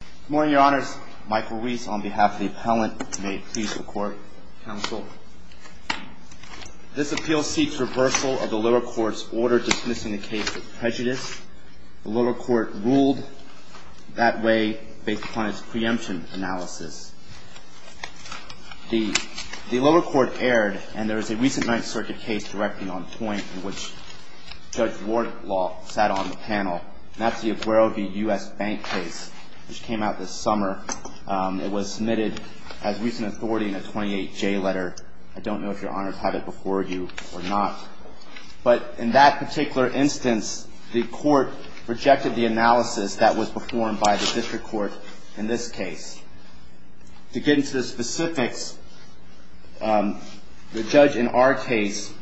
Good morning, Your Honors. Michael Reese on behalf of the appellant. May it please the Court, Counsel. This appeal seeks reversal of the lower court's order dismissing the case of prejudice. The lower court ruled that way based upon its preemption analysis. The lower court erred, and there is a recent Ninth Circuit case directing on point in which Judge Wardlaw sat on the panel. And that's the Aguero v. U.S. Bank case, which came out this summer. It was submitted as recent authority in a 28-J letter. I don't know if Your Honors had it before you or not. But in that particular instance, the court rejected the analysis that was performed by the district court in this case. To get into the specifics, the judge in our case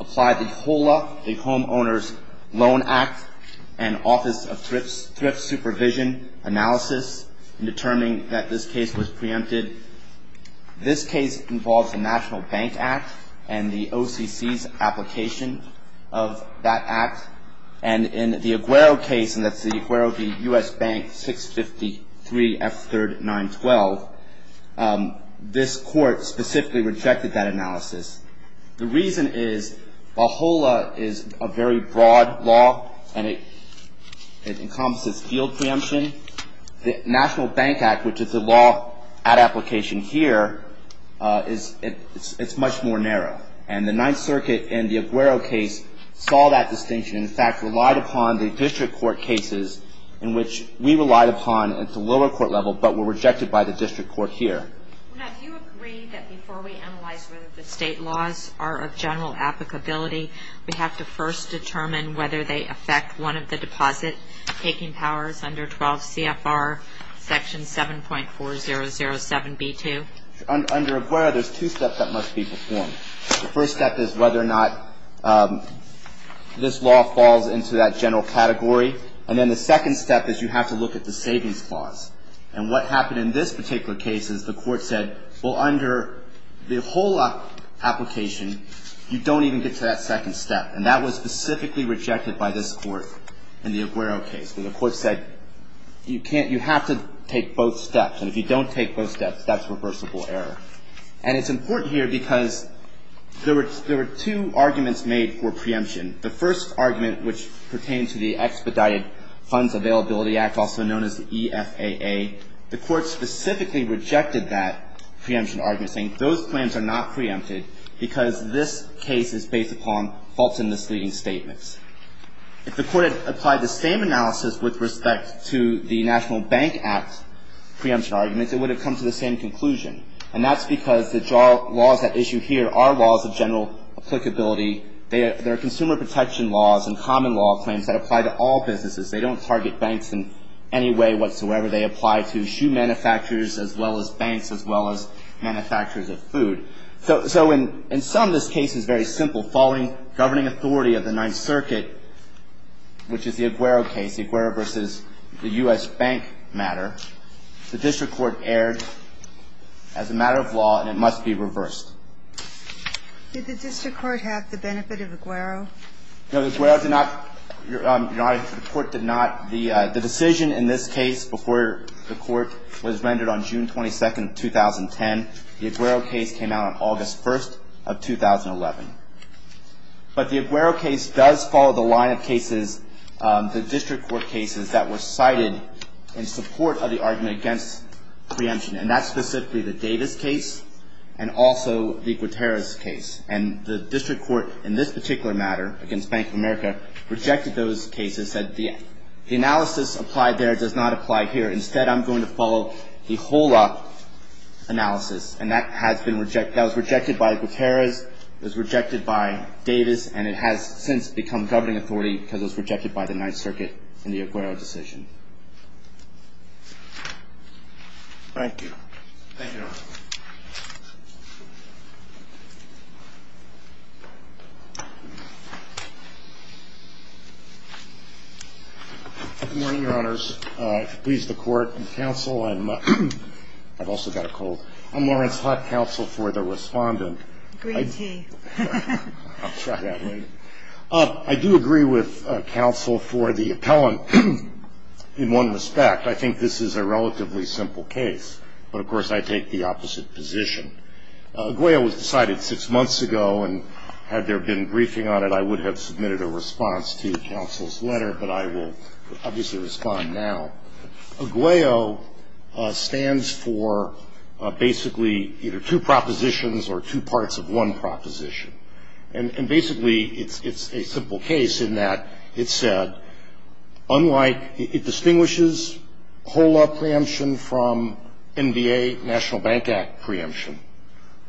applied the HOLA, the Home Owners' Loan Act, and Office of Thrift Supervision analysis in determining that this case was preempted. This case involves the National Bank Act and the OCC's application of that act. And in the Aguero case, and that's the Aguero v. U.S. Bank 653 F3rd 912, this court specifically rejected that analysis. The reason is the HOLA is a very broad law, and it encompasses field preemption. The National Bank Act, which is the law at application here, it's much more narrow. And the Ninth Circuit in the Aguero case saw that distinction and, in fact, relied upon the district court cases in which we relied upon at the lower court level but were rejected by the district court here. Now, do you agree that before we analyze whether the state laws are of general applicability, we have to first determine whether they affect one of the deposit-taking powers under 12 CFR section 7.4007b2? Under Aguero, there's two steps that must be performed. The first step is whether or not this law falls into that general category. And then the second step is you have to look at the savings clause. And what happened in this particular case is the court said, well, under the HOLA application, you don't even get to that second step, and that was specifically rejected by this court in the Aguero case. The court said you have to take both steps, and if you don't take both steps, that's reversible error. And it's important here because there were two arguments made for preemption. The first argument, which pertained to the Expedited Funds Availability Act, also known as the EFAA, the court specifically rejected that preemption argument, saying those plans are not preempted because this case is based upon false and misleading statements. If the court had applied the same analysis with respect to the National Bank Act preemption arguments, it would have come to the same conclusion. And that's because the laws at issue here are laws of general applicability. They are consumer protection laws and common law claims that apply to all businesses. They don't target banks in any way whatsoever. They apply to shoe manufacturers, as well as banks, as well as manufacturers of food. So in some, this case is very simple. Following governing authority of the Ninth Circuit, which is the Aguero case, the Aguero versus the U.S. Bank matter, the district court erred as a matter of law, and it must be reversed. Did the district court have the benefit of Aguero? No, the Aguero did not. Your Honor, the court did not. The decision in this case before the court was rendered on June 22, 2010, the Aguero case came out on August 1 of 2011. But the Aguero case does follow the line of cases, the district court cases, that were cited in support of the argument against preemption, and that's specifically the Davis case and also the Guterres case. And the district court, in this particular matter, against Bank of America, rejected those cases, said the analysis applied there does not apply here. Instead, I'm going to follow the HOLA analysis, and that has been rejected. That was rejected by Guterres. It was rejected by Davis, and it has since become governing authority because it was rejected by the Ninth Circuit in the Aguero decision. Thank you. Thank you, Your Honor. Good morning, Your Honors. If it pleases the court and counsel, I'm also got a cold. I'm Lawrence Hutt, counsel for the Respondent. Green tea. I'll try that later. I do agree with counsel for the appellant in one respect. I think this is a relatively simple case, but, of course, I take the opposite position. Agueo was decided six months ago, and had there been briefing on it, I would have submitted a response to counsel's letter, but I will obviously respond now. Agueo stands for basically either two propositions or two parts of one proposition. And basically, it's a simple case in that it said, unlike, it distinguishes HOLA preemption from NBA National Bank Act preemption,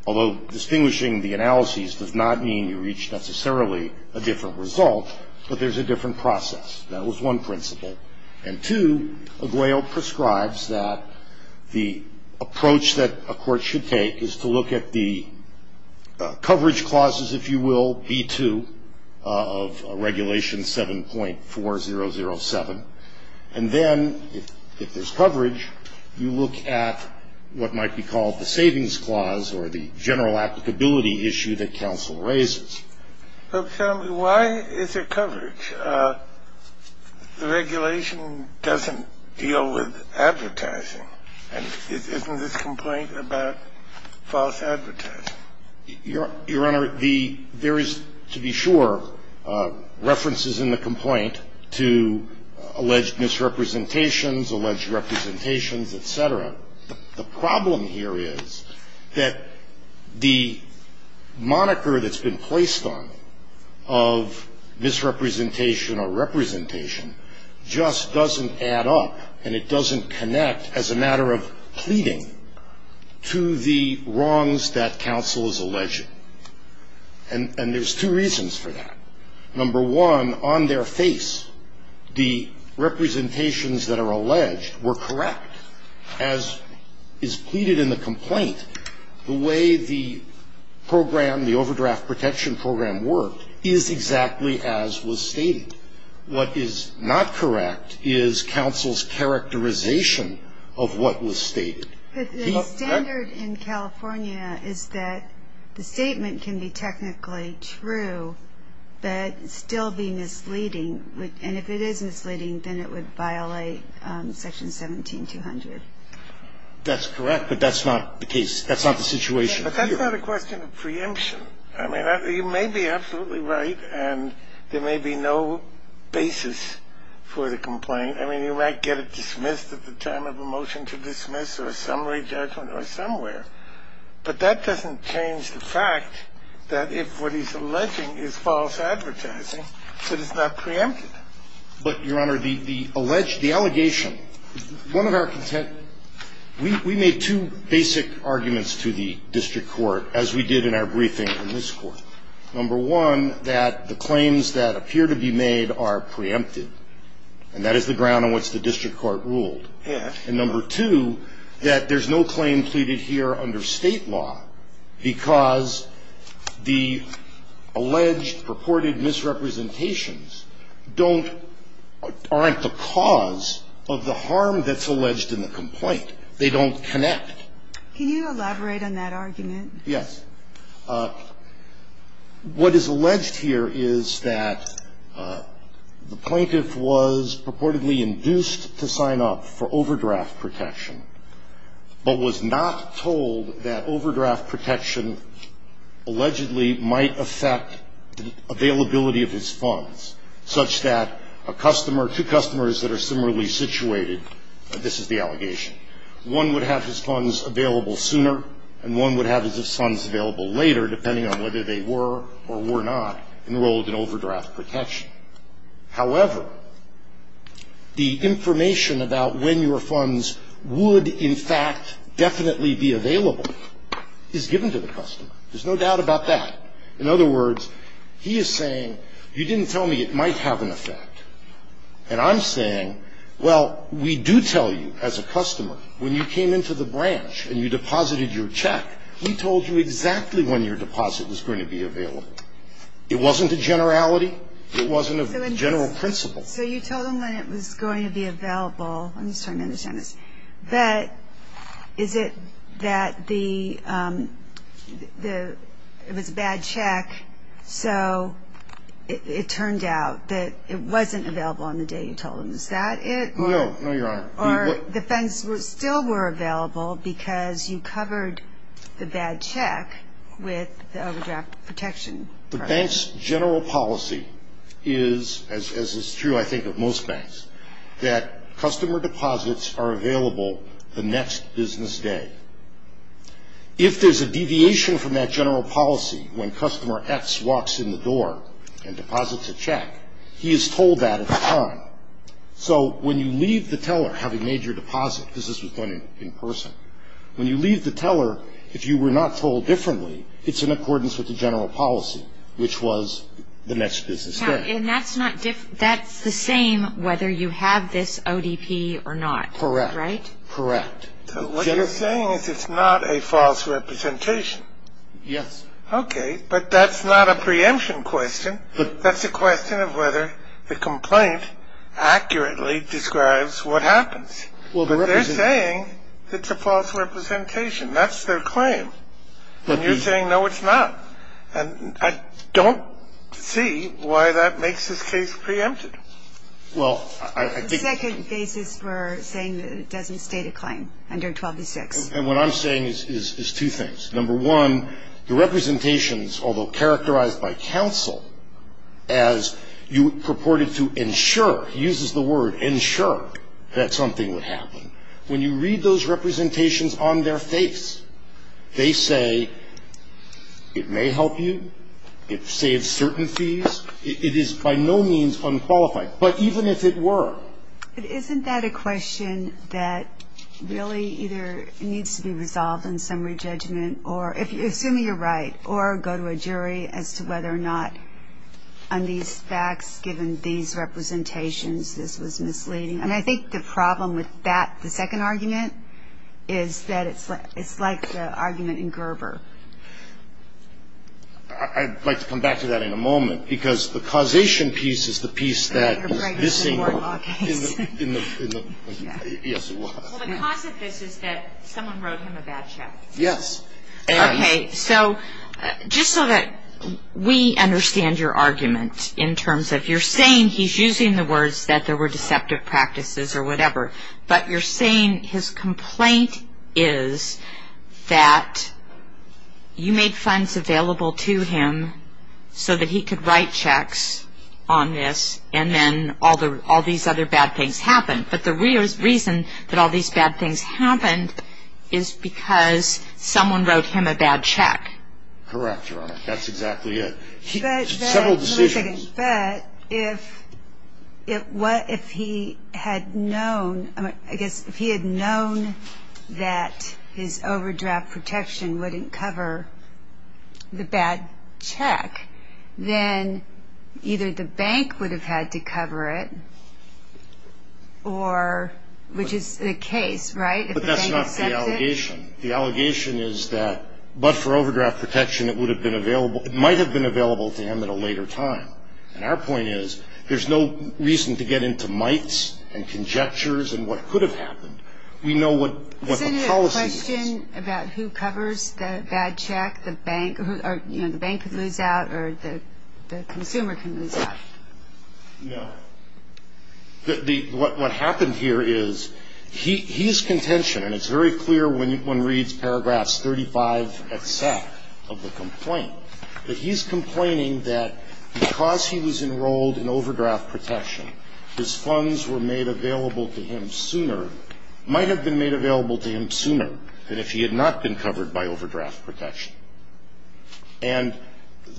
although distinguishing the analyses does not mean you reach necessarily a different result, but there's a different process. That was one principle. And two, Agueo prescribes that the approach that a court should take is to look at the coverage clauses, if you will, B-2 of Regulation 7.4007. And then, if there's coverage, you look at what might be called the savings clause or the general applicability issue that counsel raises. Why is there coverage? The regulation doesn't deal with advertising. And isn't this complaint about false advertising? Your Honor, there is, to be sure, references in the complaint to alleged misrepresentations, alleged representations, et cetera. The problem here is that the moniker that's been placed on it of misrepresentation or representation just doesn't add up, and it doesn't connect as a matter of pleading to the wrongs that counsel is alleging. And there's two reasons for that. Number one, on their face, the representations that are alleged were correct, as is pleaded in the complaint. The way the program, the overdraft protection program worked is exactly as was stated. What is not correct is counsel's characterization of what was stated. The standard in California is that the statement can be technically true but still be misleading. And if it is misleading, then it would violate Section 17200. That's correct, but that's not the case. That's not the situation here. But that's not a question of preemption. I mean, you may be absolutely right, and there may be no basis for the complaint. I mean, you might get it dismissed at the time of a motion to dismiss or a summary judgment or somewhere, but that doesn't change the fact that if what he's alleging is false advertising, that it's not preempted. But, Your Honor, the alleged, the allegation, one of our consent, we made two basic arguments to the district court, as we did in our briefing in this Court. Number one, that the claims that appear to be made are preempted. And that is the ground on which the district court ruled. And number two, that there's no claim pleaded here under State law because the alleged, purported misrepresentations don't, aren't the cause of the harm that's alleged in the complaint. They don't connect. Can you elaborate on that argument? Yes. What is alleged here is that the plaintiff was purportedly induced to sign up for overdraft protection, but was not told that overdraft protection allegedly might affect the availability of his funds, such that a customer, two customers that are similarly situated, this is the allegation. One would have his funds available sooner, and one would have his funds available later, depending on whether they were or were not enrolled in overdraft protection. However, the information about when your funds would, in fact, definitely be available is given to the customer. There's no doubt about that. In other words, he is saying, you didn't tell me it might have an effect. And I'm saying, well, we do tell you as a customer, when you came into the branch and you deposited your check, we told you exactly when your deposit was going to be available. It wasn't a generality. It wasn't a general principle. So you told him when it was going to be available. I'm just trying to understand this. But is it that the, it was a bad check, so it turned out that it wasn't available on the day you told him. Is that it? No, no, Your Honor. Or the funds still were available because you covered the bad check with overdraft protection. The bank's general policy is, as is true, I think, of most banks, that customer deposits are available the next business day. If there's a deviation from that general policy, when customer X walks in the door and deposits a check, he is told that at the time. So when you leave the teller, having made your deposit, because this was done in person, when you leave the teller, if you were not told differently, it's in accordance with the general policy, which was the next business day. And that's the same whether you have this ODP or not, right? Correct. Correct. What you're saying is it's not a false representation. Yes. Okay. But that's not a preemption question. That's a question of whether the complaint accurately describes what happens. But they're saying it's a false representation. That's their claim. And you're saying, no, it's not. And I don't see why that makes this case preempted. Well, I think the second basis for saying that it doesn't state a claim under 1206. And what I'm saying is two things. Number one, the representations, although characterized by counsel as you purported to ensure, uses the word ensure, that something would happen, when you read those It saves certain fees. It is by no means unqualified. But even if it were. But isn't that a question that really either needs to be resolved in summary judgment or, assuming you're right, or go to a jury as to whether or not on these facts, given these representations, this was misleading. And I think the problem with that, the second argument, is that it's like the argument in Gerber. I'd like to come back to that in a moment. Because the causation piece is the piece that is missing. Well, the cause of this is that someone wrote him a bad check. Yes. Okay. So just so that we understand your argument in terms of you're saying he's using the words that there were deceptive practices or whatever. But you're saying his complaint is that you made funds available to him so that he could write checks on this and then all these other bad things happened. But the reason that all these bad things happened is because someone wrote him a bad check. Correct, Your Honor. That's exactly it. Several decisions. But if he had known that his overdraft protection wouldn't cover the bad check, then either the bank would have had to cover it, which is the case, right, if the bank accepts it? But that's not the allegation. The allegation is that, but for overdraft protection, it might have been available to him at a later time. And our point is there's no reason to get into mights and conjectures and what could have happened. We know what the policy is. Isn't it a question about who covers the bad check? The bank could lose out or the consumer can lose out. No. What happened here is he's contention, and it's very clear when one reads paragraphs 35 except of the complaint, that he's complaining that because he was enrolled in overdraft protection, his funds were made available to him sooner, might have been made available to him sooner than if he had not been covered by overdraft protection. And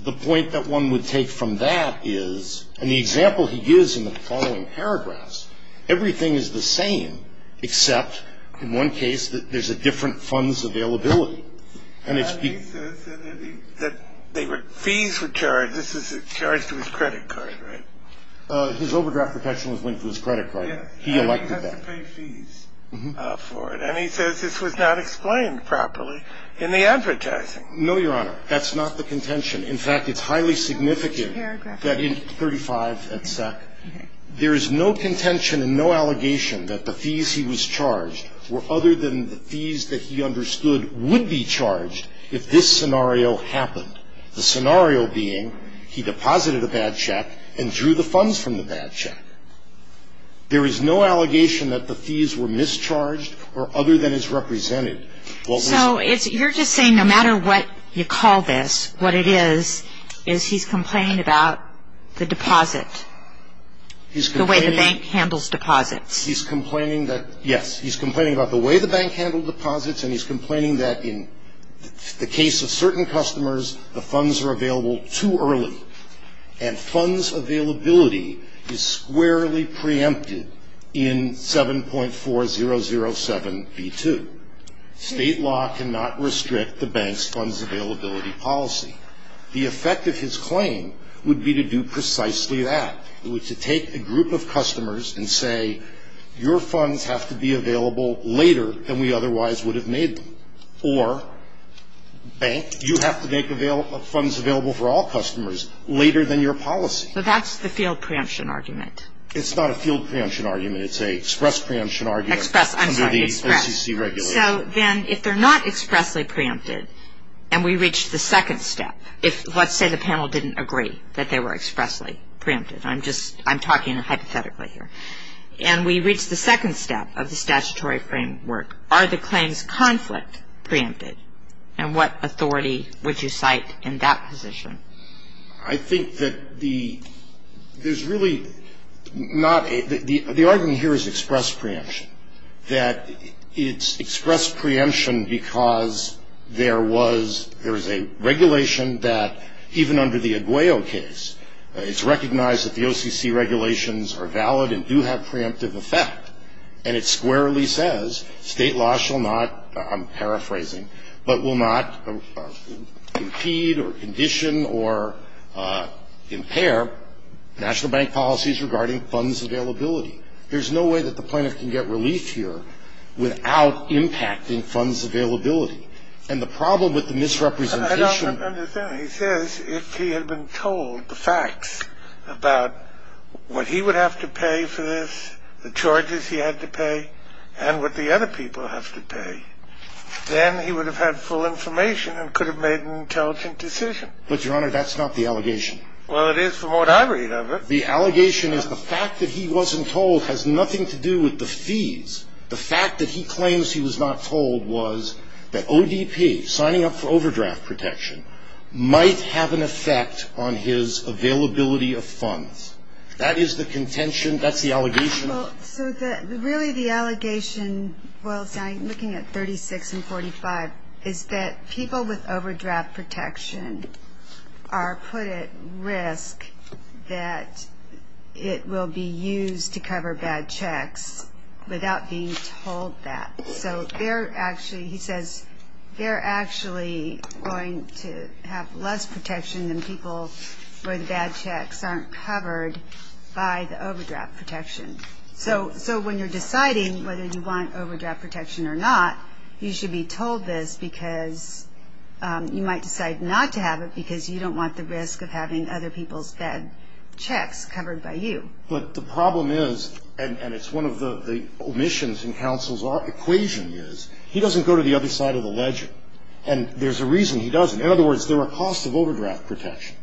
the point that one would take from that is, and the example he gives in the following paragraphs, everything is the same except in one case that there's a different funds availability. And it's been. He says that fees were charged. This is charged to his credit card, right? His overdraft protection was linked to his credit card. Yes. He elected that. And he has to pay fees for it. And he says this was not explained properly in the advertising. No, Your Honor. That's not the contention. In fact, it's highly significant that in 35 at SEC, there is no contention and no allegation that the fees he was charged were other than the fees that he understood would be charged if this scenario happened, the scenario being he deposited a bad check and drew the funds from the bad check. There is no allegation that the fees were mischarged or other than as represented. So you're just saying no matter what you call this, what it is is he's complaining about the deposit, the way the bank handles deposits. He's complaining that, yes. He's complaining about the way the bank handled deposits, and he's complaining that in the case of certain customers, the funds are available too early. And funds availability is squarely preempted in 7.4007B2. State law cannot restrict the bank's funds availability policy. The effect of his claim would be to do precisely that. It would take a group of customers and say, your funds have to be available later than we otherwise would have made them. Or bank, you have to make funds available for all customers later than your policy. But that's the field preemption argument. It's not a field preemption argument. It's an express preemption argument. Express. I'm sorry, express. Under the SEC regulations. So then if they're not expressly preempted, and we reach the second step, if let's say the panel didn't agree that they were expressly preempted. I'm just, I'm talking hypothetically here. And we reach the second step of the statutory framework. Are the claims conflict preempted? And what authority would you cite in that position? I think that the, there's really not, the argument here is express preemption. That it's express preemption because there was, there was a regulation that even under the Aguayo case, it's recognized that the OCC regulations are valid and do have preemptive effect. And it squarely says state law shall not, I'm paraphrasing, but will not impede or condition or impair national bank policies regarding funds availability. There's no way that the plaintiff can get relief here without impacting funds availability. And the problem with the misrepresentation. I don't understand. He says if he had been told the facts about what he would have to pay for this, the charges he had to pay, and what the other people have to pay, then he would have had full information and could have made an intelligent decision. But, Your Honor, that's not the allegation. Well, it is from what I read of it. The allegation is the fact that he wasn't told has nothing to do with the fees. The fact that he claims he was not told was that ODP, signing up for overdraft protection, might have an effect on his availability of funds. That is the contention. That's the allegation. Well, so really the allegation, while I'm looking at 36 and 45, is that people with overdraft protection are put at risk that it will be used to cover bad checks without being told that. So they're actually, he says, they're actually going to have less protection than people where the bad checks aren't covered by the overdraft protection. So when you're deciding whether you want overdraft protection or not, you should be told this because you might decide not to have it because you don't want the risk of having other people's bad checks covered by you. But the problem is, and it's one of the omissions in counsel's equation is, he doesn't go to the other side of the ledger. And there's a reason he doesn't. In other words, there are costs of overdraft protection.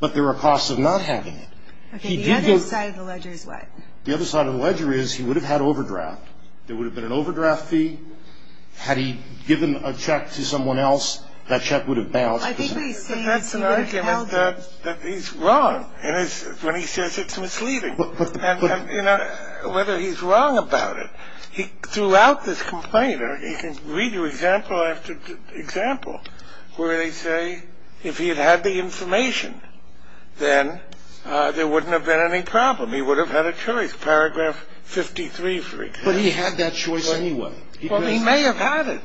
But there are costs of not having it. Okay. The other side of the ledger is what? The other side of the ledger is he would have had overdraft. There would have been an overdraft fee. Had he given a check to someone else, that check would have bounced. I think what he's saying is he would have held it. But that's an argument that he's wrong. And it's when he says it's misleading. And, you know, whether he's wrong about it, throughout this complaint, he can read you example after example where they say if he had had the information, then there wouldn't have been any problem. He would have had a choice. Paragraph 53, for example. But he had that choice anyway. Well, he may have had it.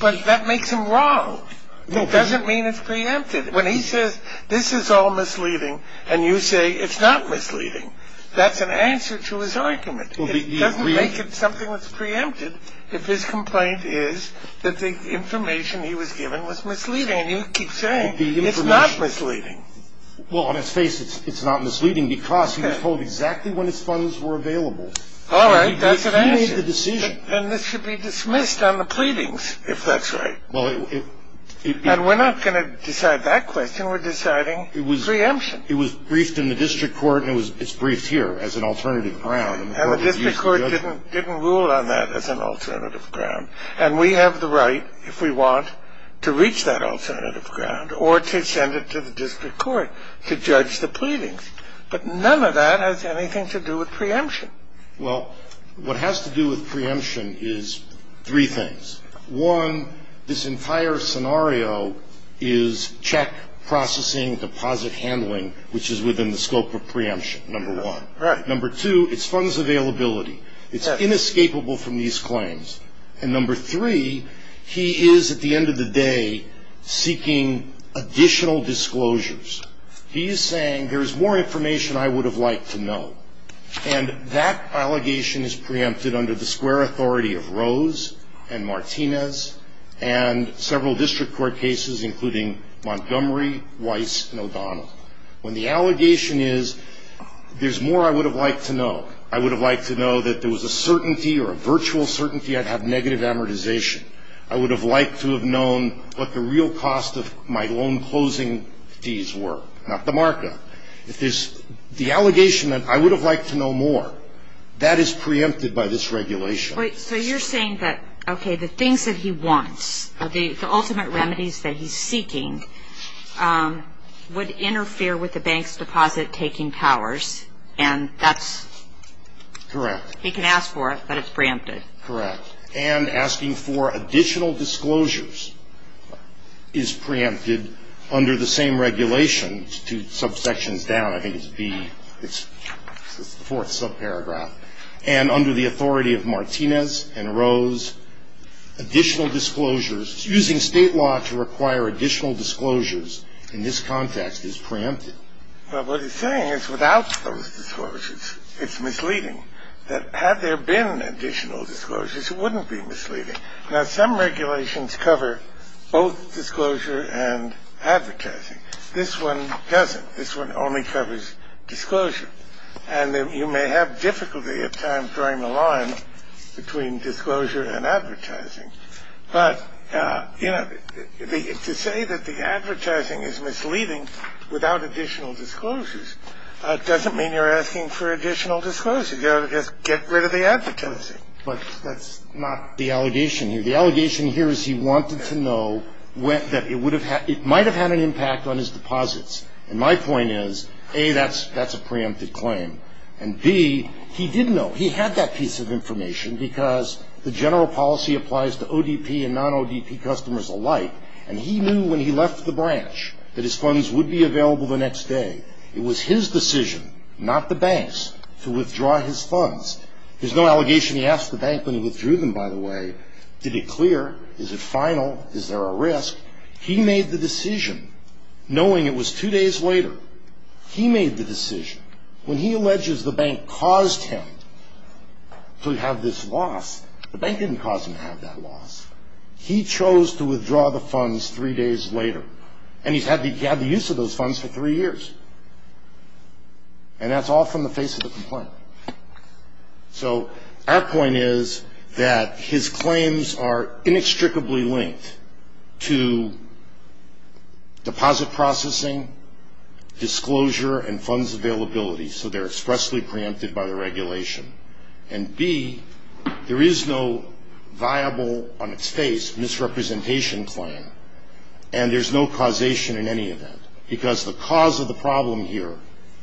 But that makes him wrong. It doesn't mean it's preempted. When he says this is all misleading and you say it's not misleading, that's an answer to his argument. It doesn't make it something that's preempted if his complaint is that the information he was given was misleading. And you keep saying it's not misleading. Well, let's face it, it's not misleading because he was told exactly when his funds were available. All right, that's an answer. He made the decision. And this should be dismissed on the pleadings, if that's right. And we're not going to decide that question. We're deciding preemption. It was briefed in the district court and it's briefed here as an alternative ground. And the district court didn't rule on that as an alternative ground. And we have the right, if we want, to reach that alternative ground or to send it to the district court to judge the pleadings. But none of that has anything to do with preemption. Well, what has to do with preemption is three things. One, this entire scenario is check, processing, deposit handling, which is within the scope of preemption, number one. Number two, it's funds availability. It's inescapable from these claims. And number three, he is, at the end of the day, seeking additional disclosures. He is saying there is more information I would have liked to know. And that allegation is preempted under the square authority of Rose and Martinez and several district court cases, including Montgomery, Weiss, and O'Donnell. When the allegation is there's more I would have liked to know, I would have liked to know that there was a certainty or a virtual certainty I'd have negative amortization. I would have liked to have known what the real cost of my loan closing fees were, not the markup. The allegation that I would have liked to know more, that is preempted by this regulation. So you're saying that, okay, the things that he wants, the ultimate remedies that he's seeking, would interfere with the bank's deposit-taking powers, and that's he can ask for it, but it's preempted. Correct. And asking for additional disclosures is preempted under the same regulation. It's two subsections down. I think it's B. It's the fourth subparagraph. And under the authority of Martinez and Rose, additional disclosures, using state law to require additional disclosures in this context is preempted. Well, what he's saying is without those disclosures, it's misleading. That had there been additional disclosures, it wouldn't be misleading. Now, some regulations cover both disclosure and advertising. This one doesn't. This one only covers disclosure. And you may have difficulty at times drawing the line between disclosure and advertising. But, you know, to say that the advertising is misleading without additional disclosures doesn't mean you're asking for additional disclosure. You've got to just get rid of the advertising. But that's not the allegation here. The allegation here is he wanted to know that it might have had an impact on his deposits. And my point is, A, that's a preempted claim, and, B, he didn't know. He had that piece of information because the general policy applies to ODP and non-ODP customers alike, and he knew when he left the branch that his funds would be available the next day. It was his decision, not the bank's, to withdraw his funds. There's no allegation he asked the bank when he withdrew them, by the way. Did he clear? Is it final? Is there a risk? He made the decision knowing it was two days later. He made the decision. When he alleges the bank caused him to have this loss, the bank didn't cause him to have that loss. He chose to withdraw the funds three days later. And he's had the use of those funds for three years. And that's all from the face of the complaint. So our point is that his claims are inextricably linked to deposit processing, disclosure, and funds availability, so they're expressly preempted by the regulation. And, B, there is no viable, on its face, misrepresentation claim, and there's no causation in any event because the cause of the problem here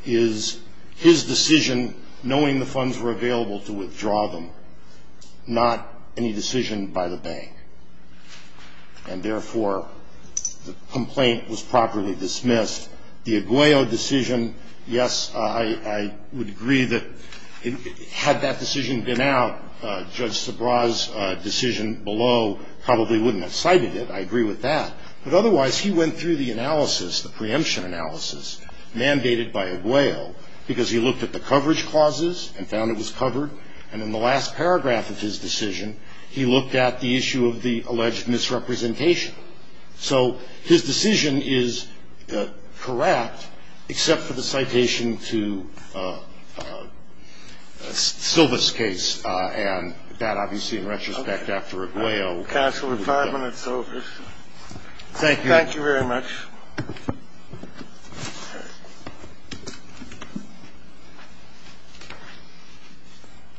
is his decision, knowing the funds were available, to withdraw them, not any decision by the bank. And, therefore, the complaint was properly dismissed. The Aguayo decision, yes, I would agree that had that decision been out, Judge Sabra's decision below probably wouldn't have cited it. I agree with that. But, otherwise, he went through the analysis, the preemption analysis mandated by Aguayo because he looked at the coverage clauses and found it was covered. And in the last paragraph of his decision, he looked at the issue of the alleged misrepresentation. So his decision is correct except for the citation to Silva's case, and that, obviously, in retrospect, after Aguayo. Thank you. Counsel, we're five minutes over. Thank you. Thank you very much.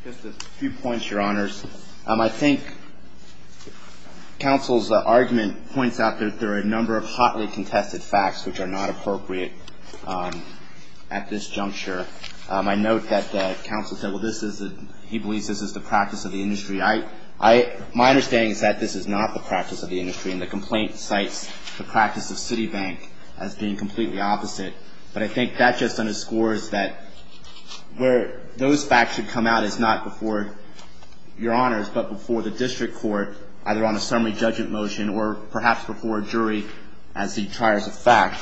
Just a few points, Your Honors. I think counsel's argument points out that there are a number of hotly contested facts which are not appropriate at this juncture. I note that counsel said, well, this is the ‑‑ he believes this is the practice of the industry. My understanding is that this is not the practice of the industry, and the complaint cites the practice of Citibank as being completely opposite. But I think that just underscores that where those facts should come out is not before Your Honors but before the district court either on a summary judgment motion or perhaps before a jury as the triers of fact.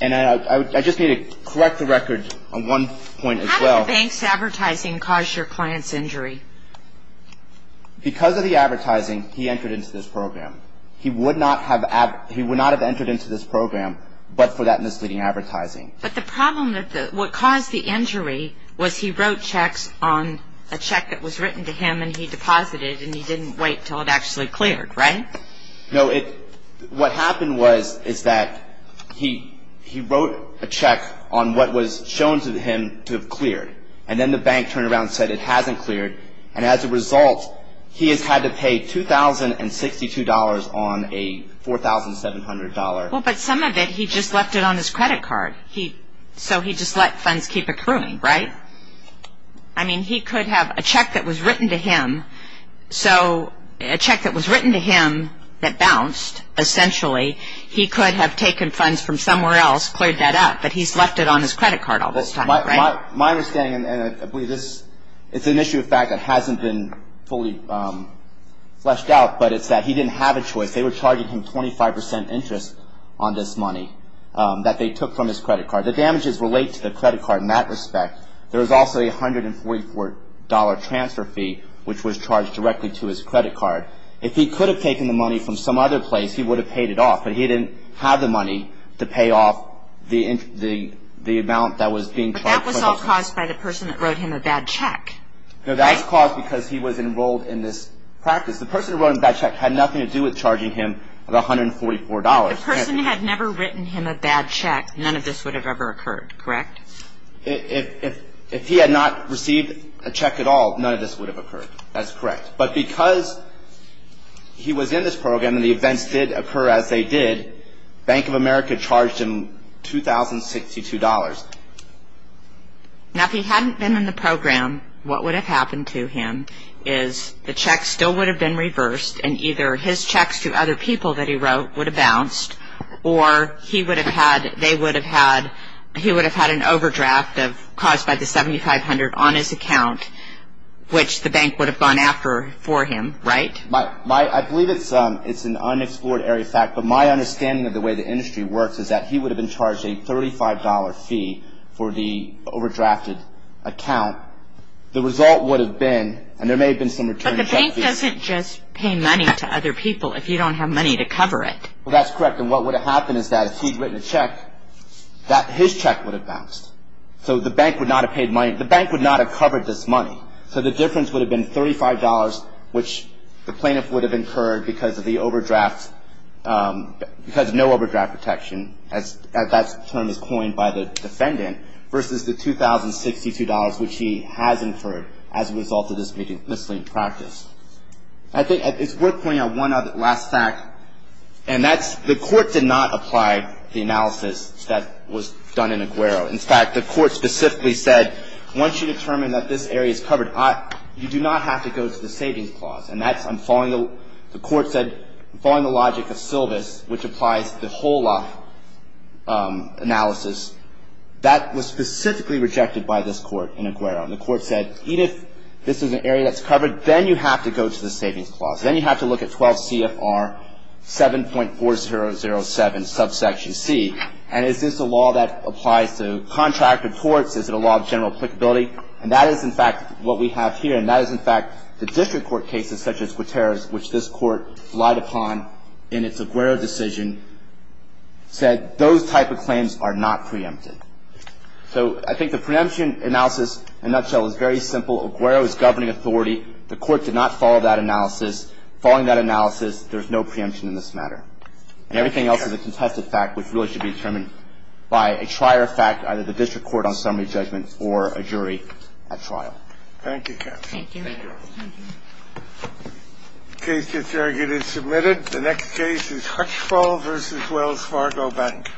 And I just need to correct the record on one point as well. How did the bank's advertising cause your client's injury? Because of the advertising, he entered into this program. He would not have ‑‑ he would not have entered into this program but for that misleading advertising. But the problem that the ‑‑ what caused the injury was he wrote checks on a check that was written to him and he deposited and he didn't wait until it actually cleared, right? No, it ‑‑ what happened was is that he wrote a check on what was shown to him to have cleared. And then the bank turned around and said it hasn't cleared. And as a result, he has had to pay $2,062 on a $4,700. Well, but some of it he just left it on his credit card. So he just let funds keep accruing, right? I mean, he could have a check that was written to him. So a check that was written to him that bounced, essentially, he could have taken funds from somewhere else, cleared that up, but he's left it on his credit card all this time, right? My understanding, and I believe this is an issue of fact that hasn't been fully fleshed out, but it's that he didn't have a choice. They were charging him 25 percent interest on this money that they took from his credit card. The damages relate to the credit card in that respect. There was also a $144 transfer fee, which was charged directly to his credit card. If he could have taken the money from some other place, he would have paid it off, but he didn't have the money to pay off the amount that was being charged. But that was all caused by the person that wrote him a bad check. No, that was caused because he was enrolled in this practice. The person who wrote him a bad check had nothing to do with charging him the $144. If the person had never written him a bad check, none of this would have ever occurred, correct? If he had not received a check at all, none of this would have occurred. That's correct. But because he was in this program and the events did occur as they did, Bank of America charged him $2,062. Now, if he hadn't been in the program, what would have happened to him is the check still would have been reversed and either his checks to other people that he wrote would have bounced or he would have had an overdraft caused by the $7,500 on his account, which the bank would have gone after for him, right? I believe it's an unexplored area of fact, but my understanding of the way the industry works is that he would have been charged a $35 fee for the overdrafted account. The result would have been, and there may have been some returns. But the bank doesn't just pay money to other people if you don't have money to cover it. Well, that's correct. And what would have happened is that if he had written a check, his check would have bounced. So the bank would not have paid money. The bank would not have covered this money. So the difference would have been $35, which the plaintiff would have incurred because of the overdraft, because no overdraft protection, as that term is coined by the defendant, versus the $2,062, which he has inferred as a result of this miscellaneous practice. I think it's worth pointing out one last fact, and that's the court did not apply the analysis that was done in Aguero. In fact, the court specifically said, once you determine that this area is covered, you do not have to go to the savings clause. And that's, I'm following, the court said, I'm following the logic of Silvis, which applies to the whole lot analysis. That was specifically rejected by this court in Aguero. And the court said, even if this is an area that's covered, then you have to go to the savings clause. Then you have to look at 12 CFR 7.4007, subsection C. And is this a law that applies to contract or torts? Is it a law of general applicability? And that is, in fact, what we have here. And that is, in fact, the district court cases such as Guterres, which this court relied upon in its Aguero decision, said those type of claims are not preempted. So I think the preemption analysis, in a nutshell, is very simple. Aguero is governing authority. The court did not follow that analysis. Following that analysis, there's no preemption in this matter. And everything else is a contested fact, which really should be determined by a trier of fact, either the district court on summary judgment or a jury at trial. Thank you, Kathy. Thank you. Thank you. The case is submitted. The next case is Hutchfall v. Wells Fargo Bank.